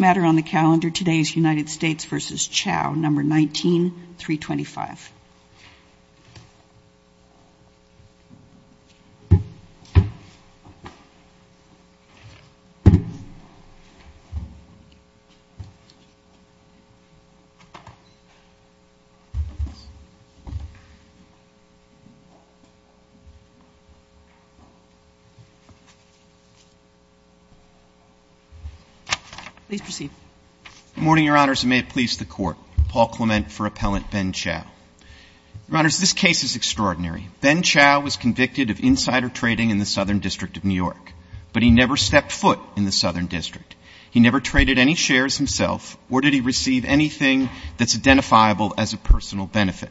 19-325. Page 21 of 21 Paul Clement for Appellant Ben Chau. Your Honors, this case is extraordinary. Ben Chau was convicted of insider trading in the Southern District of New York, but he never stepped foot in the Southern District. He never traded any shares himself, nor did he receive anything that's identifiable as a personal benefit.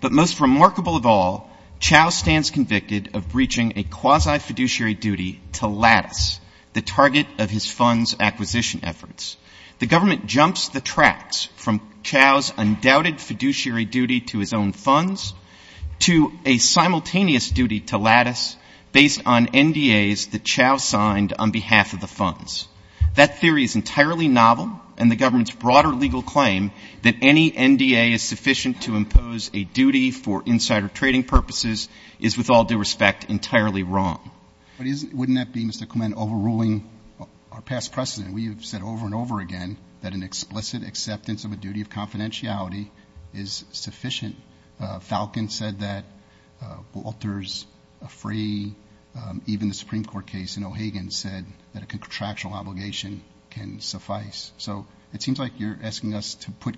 But most remarkable of all, Chau stands convicted of breaching a quasi-fiduciary duty to Lattice, the target of his funds acquisition efforts. The government jumps the tracks from Chau's undoubted fiduciary duty to his own funds to a simultaneous duty to Lattice based on NDAs that Chau signed on behalf of the funds. That theory is entirely novel, and the government's broader legal claim that any NDA is sufficient to impose a duty for insider trading purposes is, with all due respect, entirely wrong. Wouldn't that be, Mr. Clement, overruling our past precedent? We have said over and over again that an explicit acceptance of a duty of confidentiality is sufficient. Falcon said that Walters, Afray, even the Supreme Court case in O'Hagan said that a contractual obligation can suffice. So it seems like you're asking us to put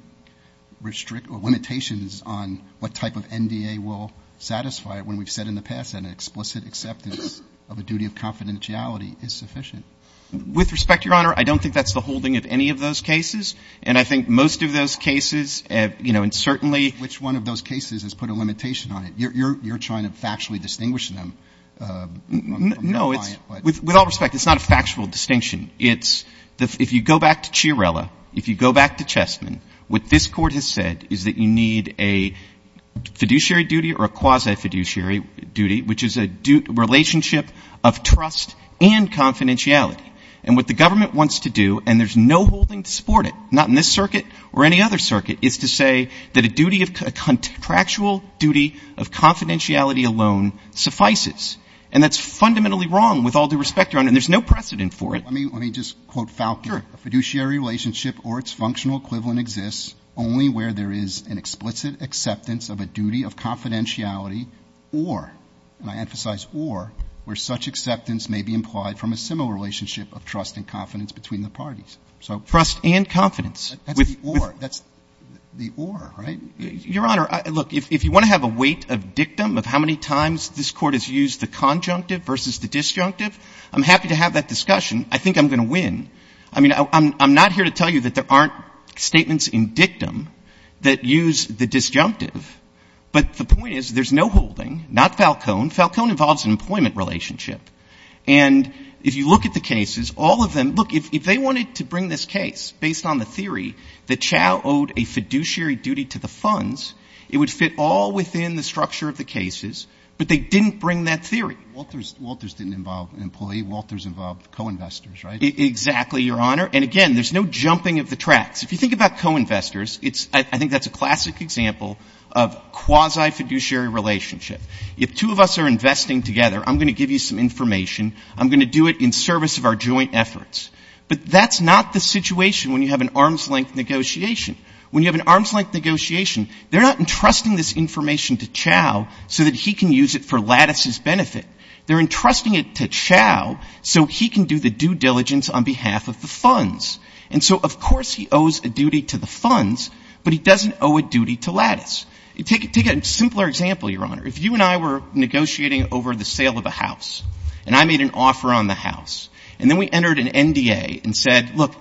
limitations on what type of NDA will satisfy it when we've said in the past that an explicit acceptance of a duty of confidentiality is sufficient. With respect, Your Honor, I don't think that's the holding of any of those cases, and I think most of those cases have, you know, and certainly Which one of those cases has put a limitation on it? You're trying to factually distinguish them. No, it's, with all respect, it's not a factual distinction. It's if you go back to Chiarella, if you go back to Chessman, what this Court has said is that you need a fiduciary duty or a quasi-fiduciary duty, which is a relationship of trust and confidentiality. And what the government wants to do, and there's no holding to support it, not in this circuit or any other circuit, is to say that a duty of contractual duty of confidentiality alone suffices. And that's fundamentally wrong with all due respect, Your Honor, and there's no precedent for it. Let me just quote Falcon. A fiduciary relationship or its functional equivalent exists only where there is an explicit acceptance of a duty of confidentiality or, and I emphasize or, where such acceptance may be implied from a similar relationship of trust and confidence between the parties. So trust and confidence. That's the or, right? Your Honor, look, if you want to have a weight of dictum of how many times this Court has used the conjunctive versus the disjunctive, I'm happy to have that discussion. I think I'm going to win. I mean, I'm not here to tell you that there aren't statements in dictum that use the disjunctive, but the point is there's no holding. Not Falcon. Falcon involves an employment relationship. And if you look at the cases, all of them, look, if they wanted to bring this case based on the theory that Chau owed a fiduciary duty to the funds, it would fit all within the structure of the cases, but they didn't bring that theory. Walters, Walters didn't involve an employee. Walters involved co-investors, right? Exactly, Your Honor. And again, there's no jumping of the tracks. If you think about co-investors, I think that's a classic example of quasi-fiduciary relationship. If two of us are investing together, I'm going to give you some information. I'm going to do it in service of our joint efforts. But that's not the situation when you have an arm's-length negotiation. When you have an arm's-length negotiation, they're not entrusting this information to Chau so that he can use it for Lattice's benefit. They're entrusting it to Chau so he can do the due diligence on behalf of the funds. And so, of course, he owes a duty to the funds, but he doesn't owe a duty to Lattice. Take a simpler example, Your Honor. If you and I were negotiating over the sale of a house, and I made an offer on the house, and then we entered an NDA and said, look,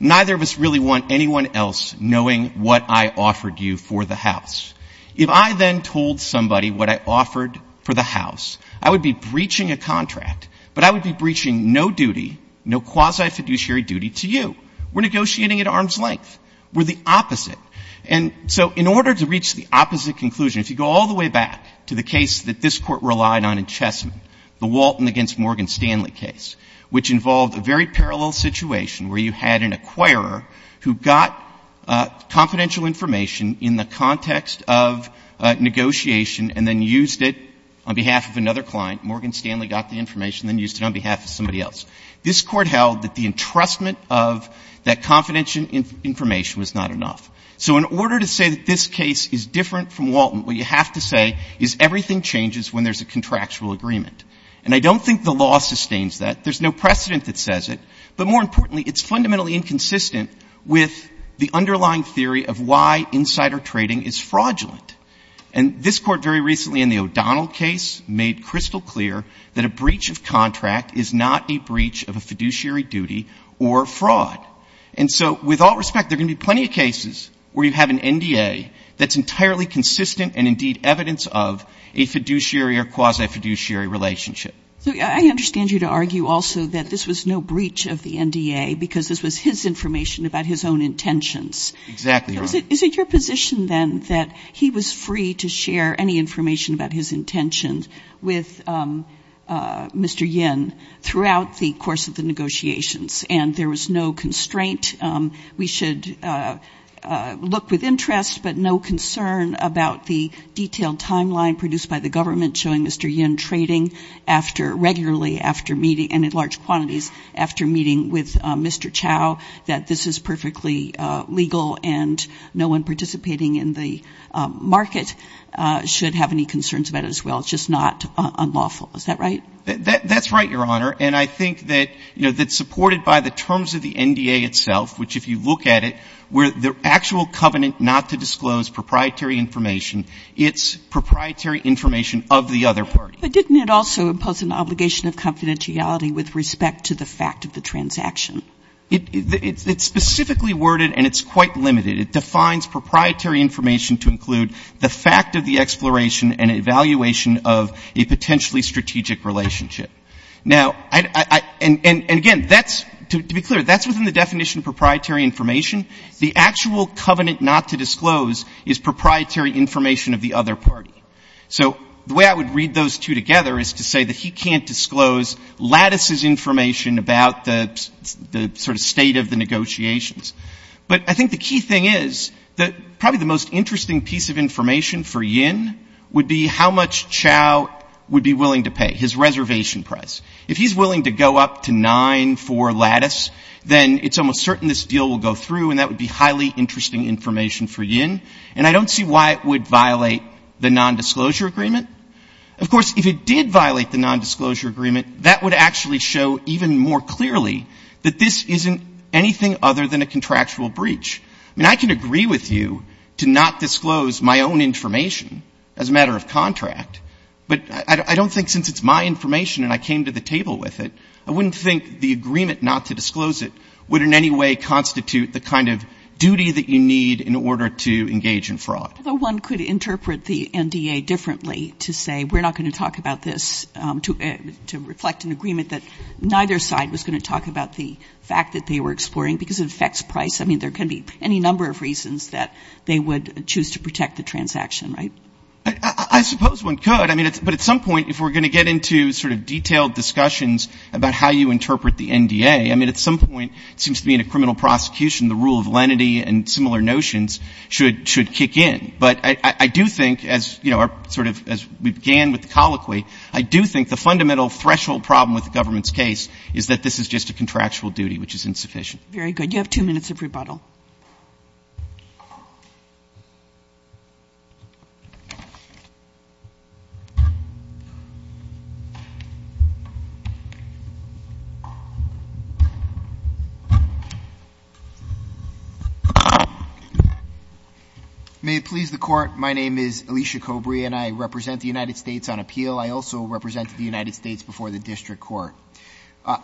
neither of us really want anyone else knowing what I offered you for the house. If I then told somebody what I offered for the house, I would be breaching a contract, but I would be breaching no duty, no quasi-fiduciary duty to you. We're negotiating at arm's length. We're the opposite. And so in order to reach the opposite conclusion, if you go all the way back to the case that this Court relied on in Chessman, the Walton against Morgan Stanley case, which involved a very parallel situation where you had an acquirer who got confidential information in the context of negotiation and then used it on behalf of another client, Morgan Stanley got the information and then used it on behalf of somebody else, this Court held that the entrustment of that confidential information was not enough. So in order to say that this case is different from Walton, what you have to say is everything changes when there's a contractual agreement. And I don't think the law sustains that. There's no precedent that says it. But more importantly, it's fundamentally inconsistent with the underlying theory of why insider trading is fraudulent. And this Court very recently in the O'Donnell case made crystal clear that a breach of contract is not a breach of a fiduciary duty or fraud. And so with all respect, there are going to be plenty of cases where you have an NDA that's entirely consistent and indeed evidence of a fiduciary or quasi-fiduciary relationship. So I understand you to argue also that this was no breach of the NDA because this was his information about his own intentions. Exactly, Your Honor. Is it your position, then, that he was free to share any information about his intentions with Mr. Yin throughout the course of the negotiations and there was no constraint? We should look with interest but no concern about the detailed timeline produced by the government showing Mr. Yin trading regularly after meeting and in large quantities after meeting with Mr. Chow that this is perfectly legal and no one participating in the market should have any concerns about it as well. It's just not unlawful. Is that right? That's right, Your Honor. And I think that supported by the terms of the NDA itself, which if you look at it, where the actual covenant not to disclose proprietary information, it's proprietary information of the other party. But didn't it also impose an obligation of confidentiality with respect to the fact of the transaction? It's specifically worded and it's quite limited. It defines proprietary information to include the fact of the exploration and evaluation of a potentially strategic relationship. Now, and again, that's, to be clear, that's within the definition of proprietary information. The actual covenant not to disclose is proprietary information of the other party. So the way I would read those two together is to say that he can't disclose Lattice's information about the sort of state of the negotiations. But I think the key thing is that probably the most interesting piece of information for Yin would be how much Chow would be willing to pay, his reservation price. If he's willing to go up to nine for Lattice, then it's almost certain this deal will go through and that would be highly interesting information for Yin. And I don't see why it would violate the nondisclosure agreement. Of course, if it did violate the nondisclosure agreement, that would actually show even more clearly that this isn't anything other than a contractual breach. I mean, I can agree with you to not disclose my own information as a matter of contract, but I don't think since it's my information and I came to the table with it, I wouldn't think the agreement not to disclose it would in any way constitute the kind of duty that you need in order to engage in fraud. Although one could interpret the NDA differently to say, we're not going to talk about this to reflect an agreement that neither side was going to talk about the fact that they were exploring because it affects price. I mean, there can be any number of reasons that they would choose to protect the transaction, right? I suppose one could. I mean, but at some point, if we're going to get into sort of detailed discussions about how you interpret the NDA, I mean, at some point, it seems to be in a criminal prosecution, the rule of lenity and similar notions should kick in. But I do think as, you know, sort of as we began with the colloquy, I do think the fundamental threshold problem with the government's case is that this is just a contractual duty, which is insufficient. Very good. You have two minutes of rebuttal. May it please the court. My name is Alicia Cobrey and I represent the United States on appeal. I also represented the United States before the district court.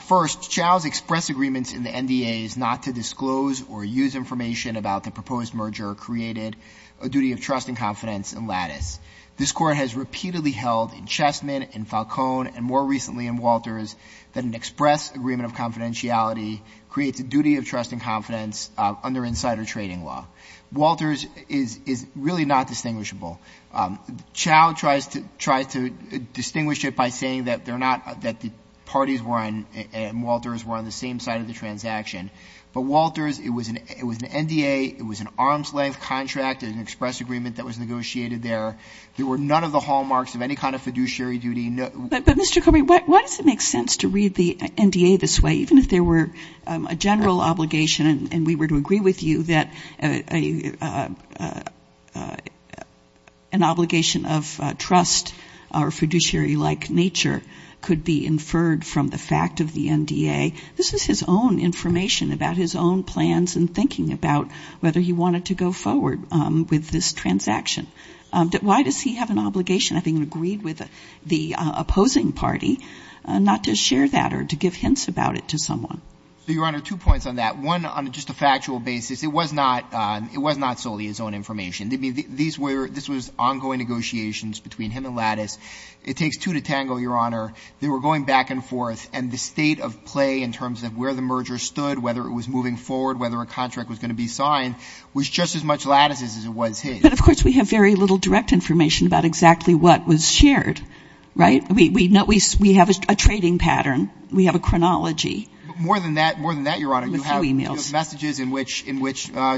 First, Chau's express agreements in the NDA is not to disclose or use information about the proposed merger created a duty of trust and confidence in Lattice. This court has repeatedly held in Chessman, in Falcone, and more recently in Walters, that an express agreement of confidentiality creates a duty of trust and confidence under insider trading law. Walters is really not distinguishable. Chau tries to distinguish it by saying that they're not, that the parties were on, and Walters were on the same side of the transaction. But Walters, it was an NDA, it was an arm's length contract, an express agreement that was negotiated there. There were none of the hallmarks of any kind of fiduciary duty. But Mr. Cobrey, why does it make sense to read the NDA this way, even if there were a general obligation, and we were to agree with you that an obligation of trust or fiduciary-like nature could be inferred from the fact of the NDA. This is his own information about his own plans and thinking about whether he wanted to go forward with this transaction. Why does he have an obligation, having agreed with the opposing party, not to share that or to give hints about it to someone? So, Your Honor, two points on that. One, on just a factual basis, it was not solely his own information. This was ongoing negotiations between him and Lattice. It takes two to tangle, Your Honor. They were going back and forth, and the state of play in terms of where the merger stood, whether it was moving forward, whether a contract was going to be signed, was just as much Lattice's as it was his. But, of course, we have very little direct information about exactly what was shared, right? We have a trading pattern. We have a chronology. More than that, Your Honor, you have messages in which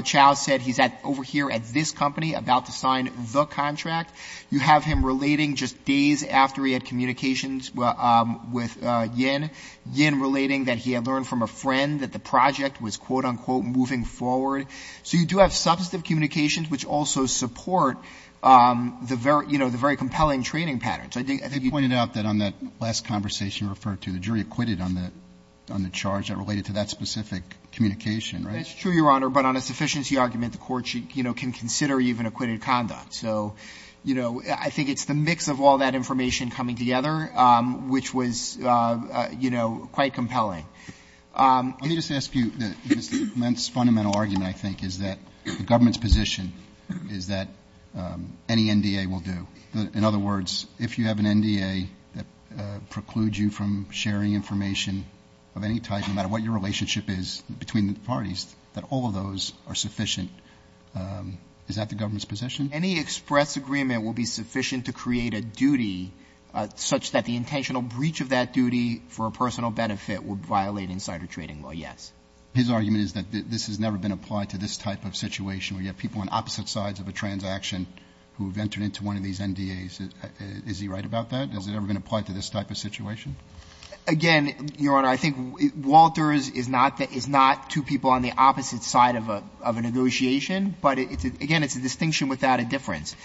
Chao said he's over here at this company about to sign the contract. You have him relating just days after he had communications with Yin, Yin relating that he had learned from a friend that the project was, quote, unquote, moving forward. So you do have substantive communications which also support the very compelling trading patterns. I think you pointed out that on that last conversation you referred to, the jury acquitted on the charge that related to that specific communication, right? That's true, Your Honor, but on a sufficiency argument, the court can consider even acquitted conduct. So, you know, I think it's the mix of all that information coming together which was, you know, quite compelling. Let me just ask you, Mr. Lentz, fundamental argument, I think, is that the government's position is that any NDA will do. In other words, if you have an NDA that precludes you from sharing information of any type, no matter what your relationship is between the parties, that all of those are sufficient. Is that the government's position? Any express agreement will be sufficient to create a duty such that the intentional breach of that duty for a personal benefit would violate insider trading law, yes. His argument is that this has never been applied to this type of situation where you have people on opposite sides of a transaction who have entered into one of these NDAs. Is he right about that? Has it ever been applied to this type of situation? Again, Your Honor, I think Walters is not two people on the opposite side of a negotiation, but again, it's a distinction without a difference.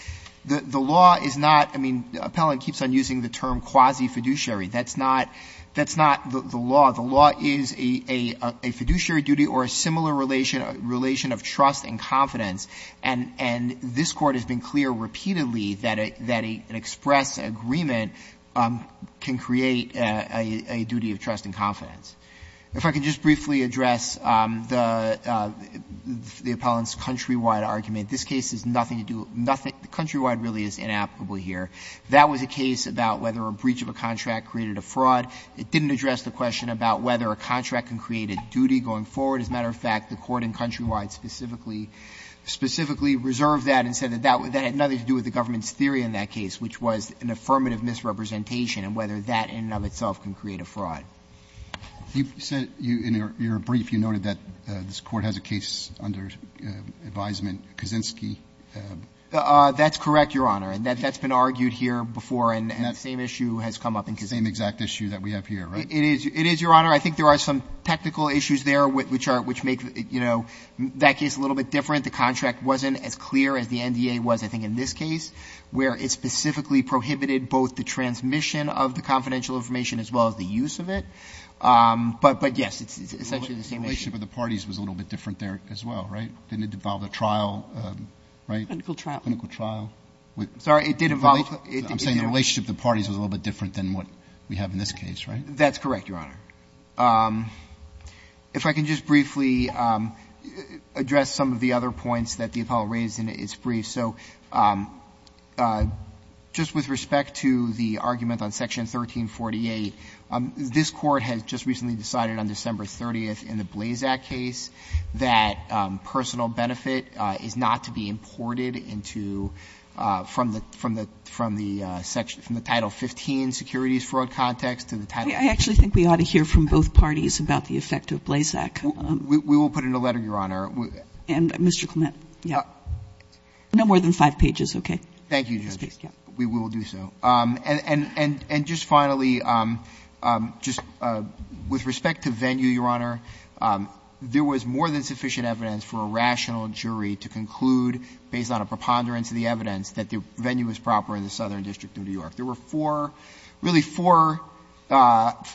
The law is not, I mean, the appellant keeps on using the term quasi-fiduciary. That's not the law. The law is a fiduciary duty or a similar relation of trust and confidence. And this Court has been clear repeatedly that an express agreement can create a duty of trust and confidence. If I could just briefly address the appellant's countrywide argument. This case has nothing to do with nothing. The countrywide really is inapplicable here. That was a case about whether a breach of a contract created a fraud. It didn't address the question about whether a contract can create a duty going forward. As a matter of fact, the court in countrywide specifically, specifically reserved that and said that that had nothing to do with the government's theory in that case, which was an affirmative misrepresentation and whether that in and of itself can create a fraud. Roberts. You said in your brief, you noted that this Court has a case under advisement, Kaczynski. That's correct, Your Honor. That's been argued here before and that same issue has come up in Kaczynski. Same exact issue that we have here, right? It is, Your Honor. I think there are some technical issues there which make that case a little bit different. The contract wasn't as clear as the NDA was, I think in this case, where it specifically prohibited both the transmission of the confidential information as well as the use of it. But yes, it's essentially the same issue. The relationship of the parties was a little bit different there as well, right? Didn't it involve a trial, right? Clinical trial. Clinical trial. I'm sorry. It did involve. I'm saying the relationship of the parties was a little bit different than what we have in this case, right? That's correct, Your Honor. If I can just briefly address some of the other points that the Apollo raised in its brief. So just with respect to the argument on Section 1348, this Court has just recently decided on December 30th in the Blazak case that personal benefit is not to be imported into from the Title 15 securities fraud context to the Title 15. I actually think we ought to hear from both parties about the effect of Blazak. We will put in a letter, Your Honor. And Mr. Clement, yeah. No more than five pages, okay? Thank you, Justice. We will do so. And just finally, just with respect to venue, Your Honor, there was more than sufficient evidence for a rational jury to conclude based on a preponderance of the evidence that the venue was proper in the Southern District of New York. There were four, really four,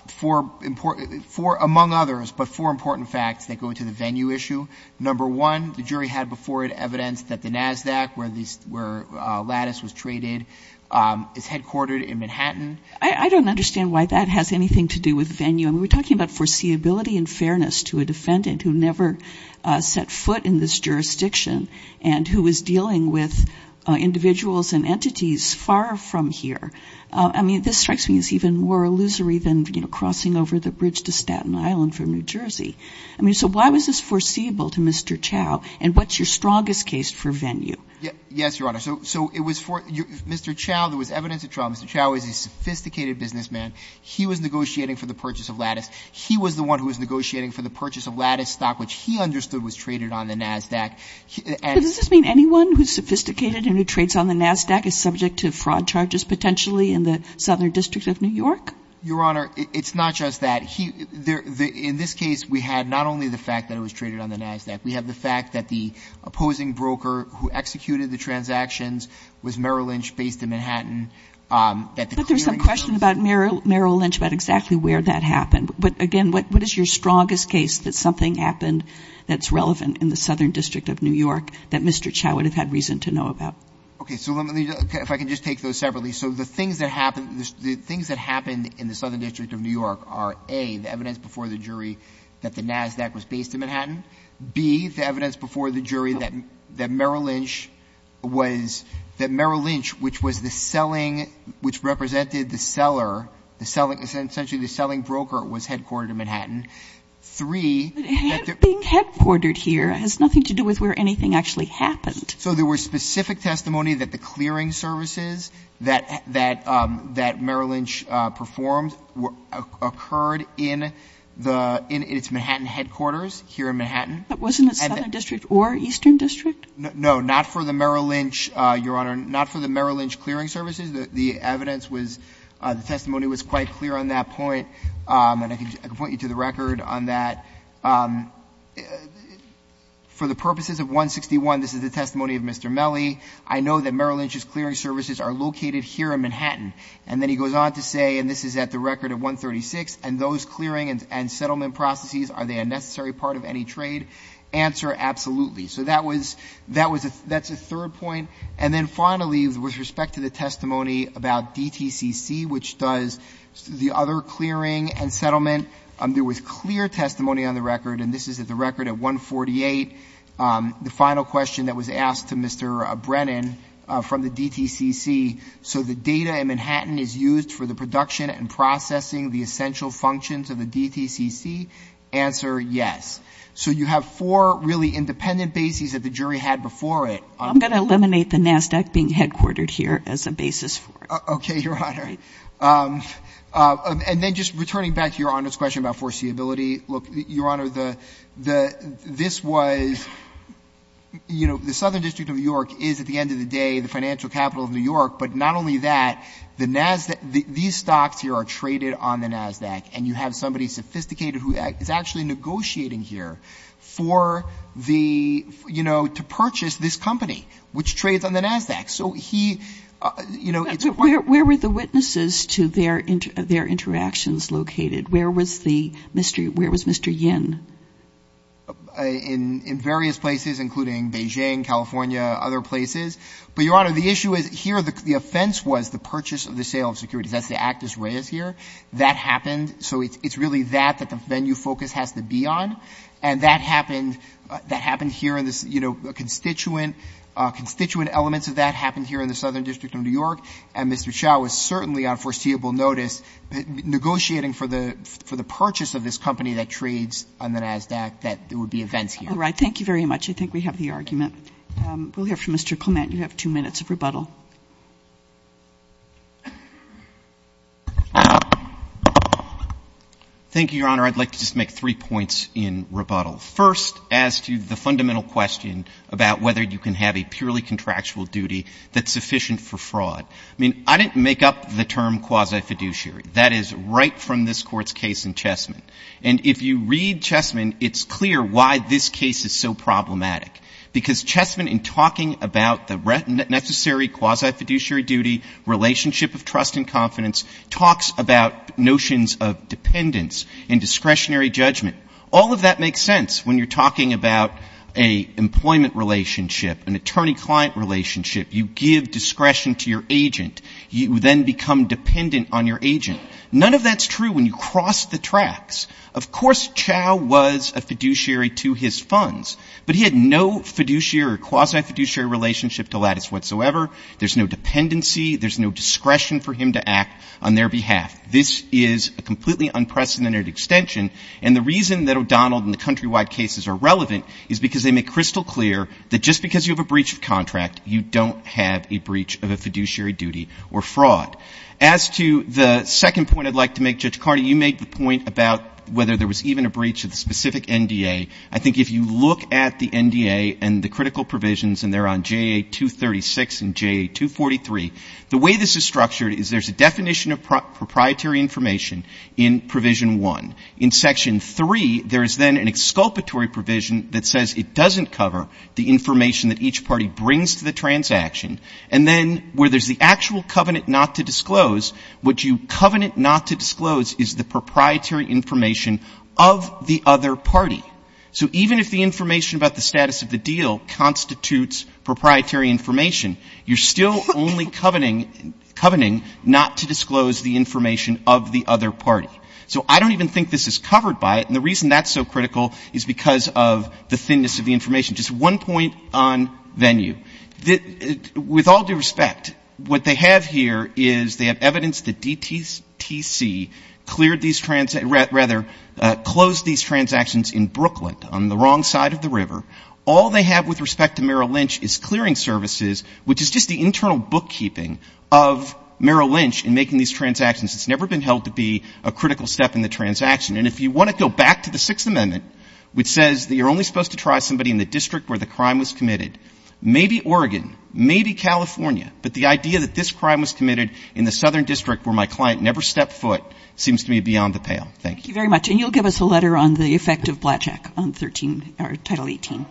four important, four among others, but four important facts that go into the venue issue. Number one, the jury had before it evidence that the NASDAQ where Lattice was traded is headquartered in Manhattan. I don't understand why that has anything to do with venue. I mean, we're talking about foreseeability and fairness to a defendant who never set foot in this jurisdiction and who is dealing with individuals and entities far from here. I mean, this strikes me as even more illusory than, you know, crossing over the bridge to Staten Island from New Jersey. I mean, so why was this foreseeable to Mr. Chau? And what's your strongest case for venue? Yes, Your Honor. So it was for, Mr. Chau, there was evidence of trauma. Mr. Chau is a sophisticated businessman. He was negotiating for the purchase of Lattice. He was the one who was negotiating for the purchase of Lattice stock, which he understood was traded on the NASDAQ. But does this mean anyone who's sophisticated and who trades on the NASDAQ is subject to fraud charges potentially in the Southern District of New York? Your Honor, it's not just that. In this case, we had not only the fact that it was traded on the NASDAQ, we have the fact that the opposing broker who executed the transactions was Merrill Lynch based in Manhattan. But there's some question about Merrill Lynch about exactly where that happened. Again, what is your strongest case that something happened that's relevant in the Southern District of New York that Mr. Chau would have had reason to know about? Okay, so let me, if I can just take those separately. So the things that happened in the Southern District of New York are A, the evidence before the jury that the NASDAQ was based in Manhattan. B, the evidence before the jury that Merrill Lynch was, that Merrill Lynch, which was the selling, which represented the seller, the selling, essentially the selling broker was headquartered in Manhattan. Three, that there- Being headquartered here has nothing to do with where anything actually happened. So there were specific testimony that the clearing services that Merrill Lynch performed occurred in the, in its Manhattan headquarters here in Manhattan. But wasn't it Southern District or Eastern District? No, not for the Merrill Lynch, Your Honor, not for the Merrill Lynch clearing services. The evidence was, the testimony was quite clear on that point. And I can point you to the record on that. For the purposes of 161, this is the testimony of Mr. Melley. I know that Merrill Lynch's clearing services are located here in Manhattan. And then he goes on to say, and this is at the record of 136, and those clearing and settlement processes, are they a necessary part of any trade? Answer, absolutely. So that was, that's a third point. And then finally, with respect to the testimony about DTCC, which does the other clearing and settlement, there was clear testimony on the record, and this is at the record at 148. The final question that was asked to Mr. Brennan from the DTCC, so the data in Manhattan is used for the production and processing the essential functions of the DTCC? Answer, yes. So you have four really independent bases that the jury had before it. I'm going to eliminate the NASDAQ being headquartered here as a basis for it. Okay, Your Honor. And then just returning back to Your Honor's question about foreseeability, look, Your Honor, this was, you know, the Southern District of New York is at the end of the day, the financial capital of New York. But not only that, the NASDAQ, these stocks here are traded on the NASDAQ. And you have somebody sophisticated who is actually negotiating here for the, you know, to purchase this company, which trades on the NASDAQ. So he, you know, it's part of the- Where were the witnesses to their interactions located? Where was the, where was Mr. Yin? In various places, including Beijing, California, other places. But Your Honor, the issue is here, the offense was the purchase of the sale of securities. That's the act as raised here. That happened. So it's really that, that the venue focus has to be on. And that happened, that happened here in this, you know, constituent, constituent elements of that happened here in the Southern District of New York. And Mr. Xiao was certainly on foreseeable notice, negotiating for the, for the purchase of this company that trades on the NASDAQ, that there would be events here. All right. Thank you very much. I think we have the argument. We'll hear from Mr. Clement. You have two minutes of rebuttal. Thank you, Your Honor. I'd like to just make three points in rebuttal. First, as to the fundamental question about whether you can have a purely contractual duty that's sufficient for fraud. I mean, I didn't make up the term quasi-fiduciary. That is right from this court's case in Chessman. And if you read Chessman, it's clear why this case is so problematic. Because Chessman, in talking about the necessary quasi-fiduciary duty, relationship of trust and confidence, talks about notions of dependence and discretionary judgment. All of that makes sense when you're talking about an employment relationship, an attorney-client relationship. You give discretion to your agent. You then become dependent on your agent. None of that's true when you cross the tracks. Of course, Xiao was a fiduciary to his funds. But he had no fiduciary or quasi-fiduciary relationship to lattice whatsoever. There's no dependency. There's no discretion for him to act on their behalf. This is a completely unprecedented extension. And the reason that O'Donnell and the countrywide cases are relevant is because they make crystal clear that just because you have a breach of contract, you don't have a breach of a fiduciary duty or fraud. As to the second point I'd like to make, Judge Carney, you made the point about whether there was even a breach of the specific NDA. I think if you look at the NDA and the critical provisions, and they're on J.A. 236 and J.A. 243, the way this is structured is there's a definition of proprietary information in Provision 1. In Section 3, there is then an exculpatory provision that says it doesn't cover the information that each party brings to the transaction. And then where there's the actual covenant not to disclose, what you covenant not to disclose is the proprietary information of the other party. So even if the information about the status of the deal constitutes proprietary information, you're still only covenanting not to disclose the information of the other party. So I don't even think this is covered by it. And the reason that's so critical is because of the thinness of the information. Just one point on venue. With all due respect, what they have here is they have evidence that DTTC cleared these, rather, closed these transactions in Brooklyn on the wrong side of the river. All they have with respect to Merrill Lynch is clearing services, which is just the internal bookkeeping of Merrill Lynch in making these transactions. It's never been held to be a critical step in the transaction. And if you want to go back to the Sixth Amendment, which says that you're only supposed to try somebody in the district where the crime was committed, maybe Oregon, maybe California, but the idea that this crime was committed in the southern district where my client never stepped foot seems to me beyond the pale. Thank you. Thank you very much. And you'll give us a letter on the effect of Blackjack on Title 18.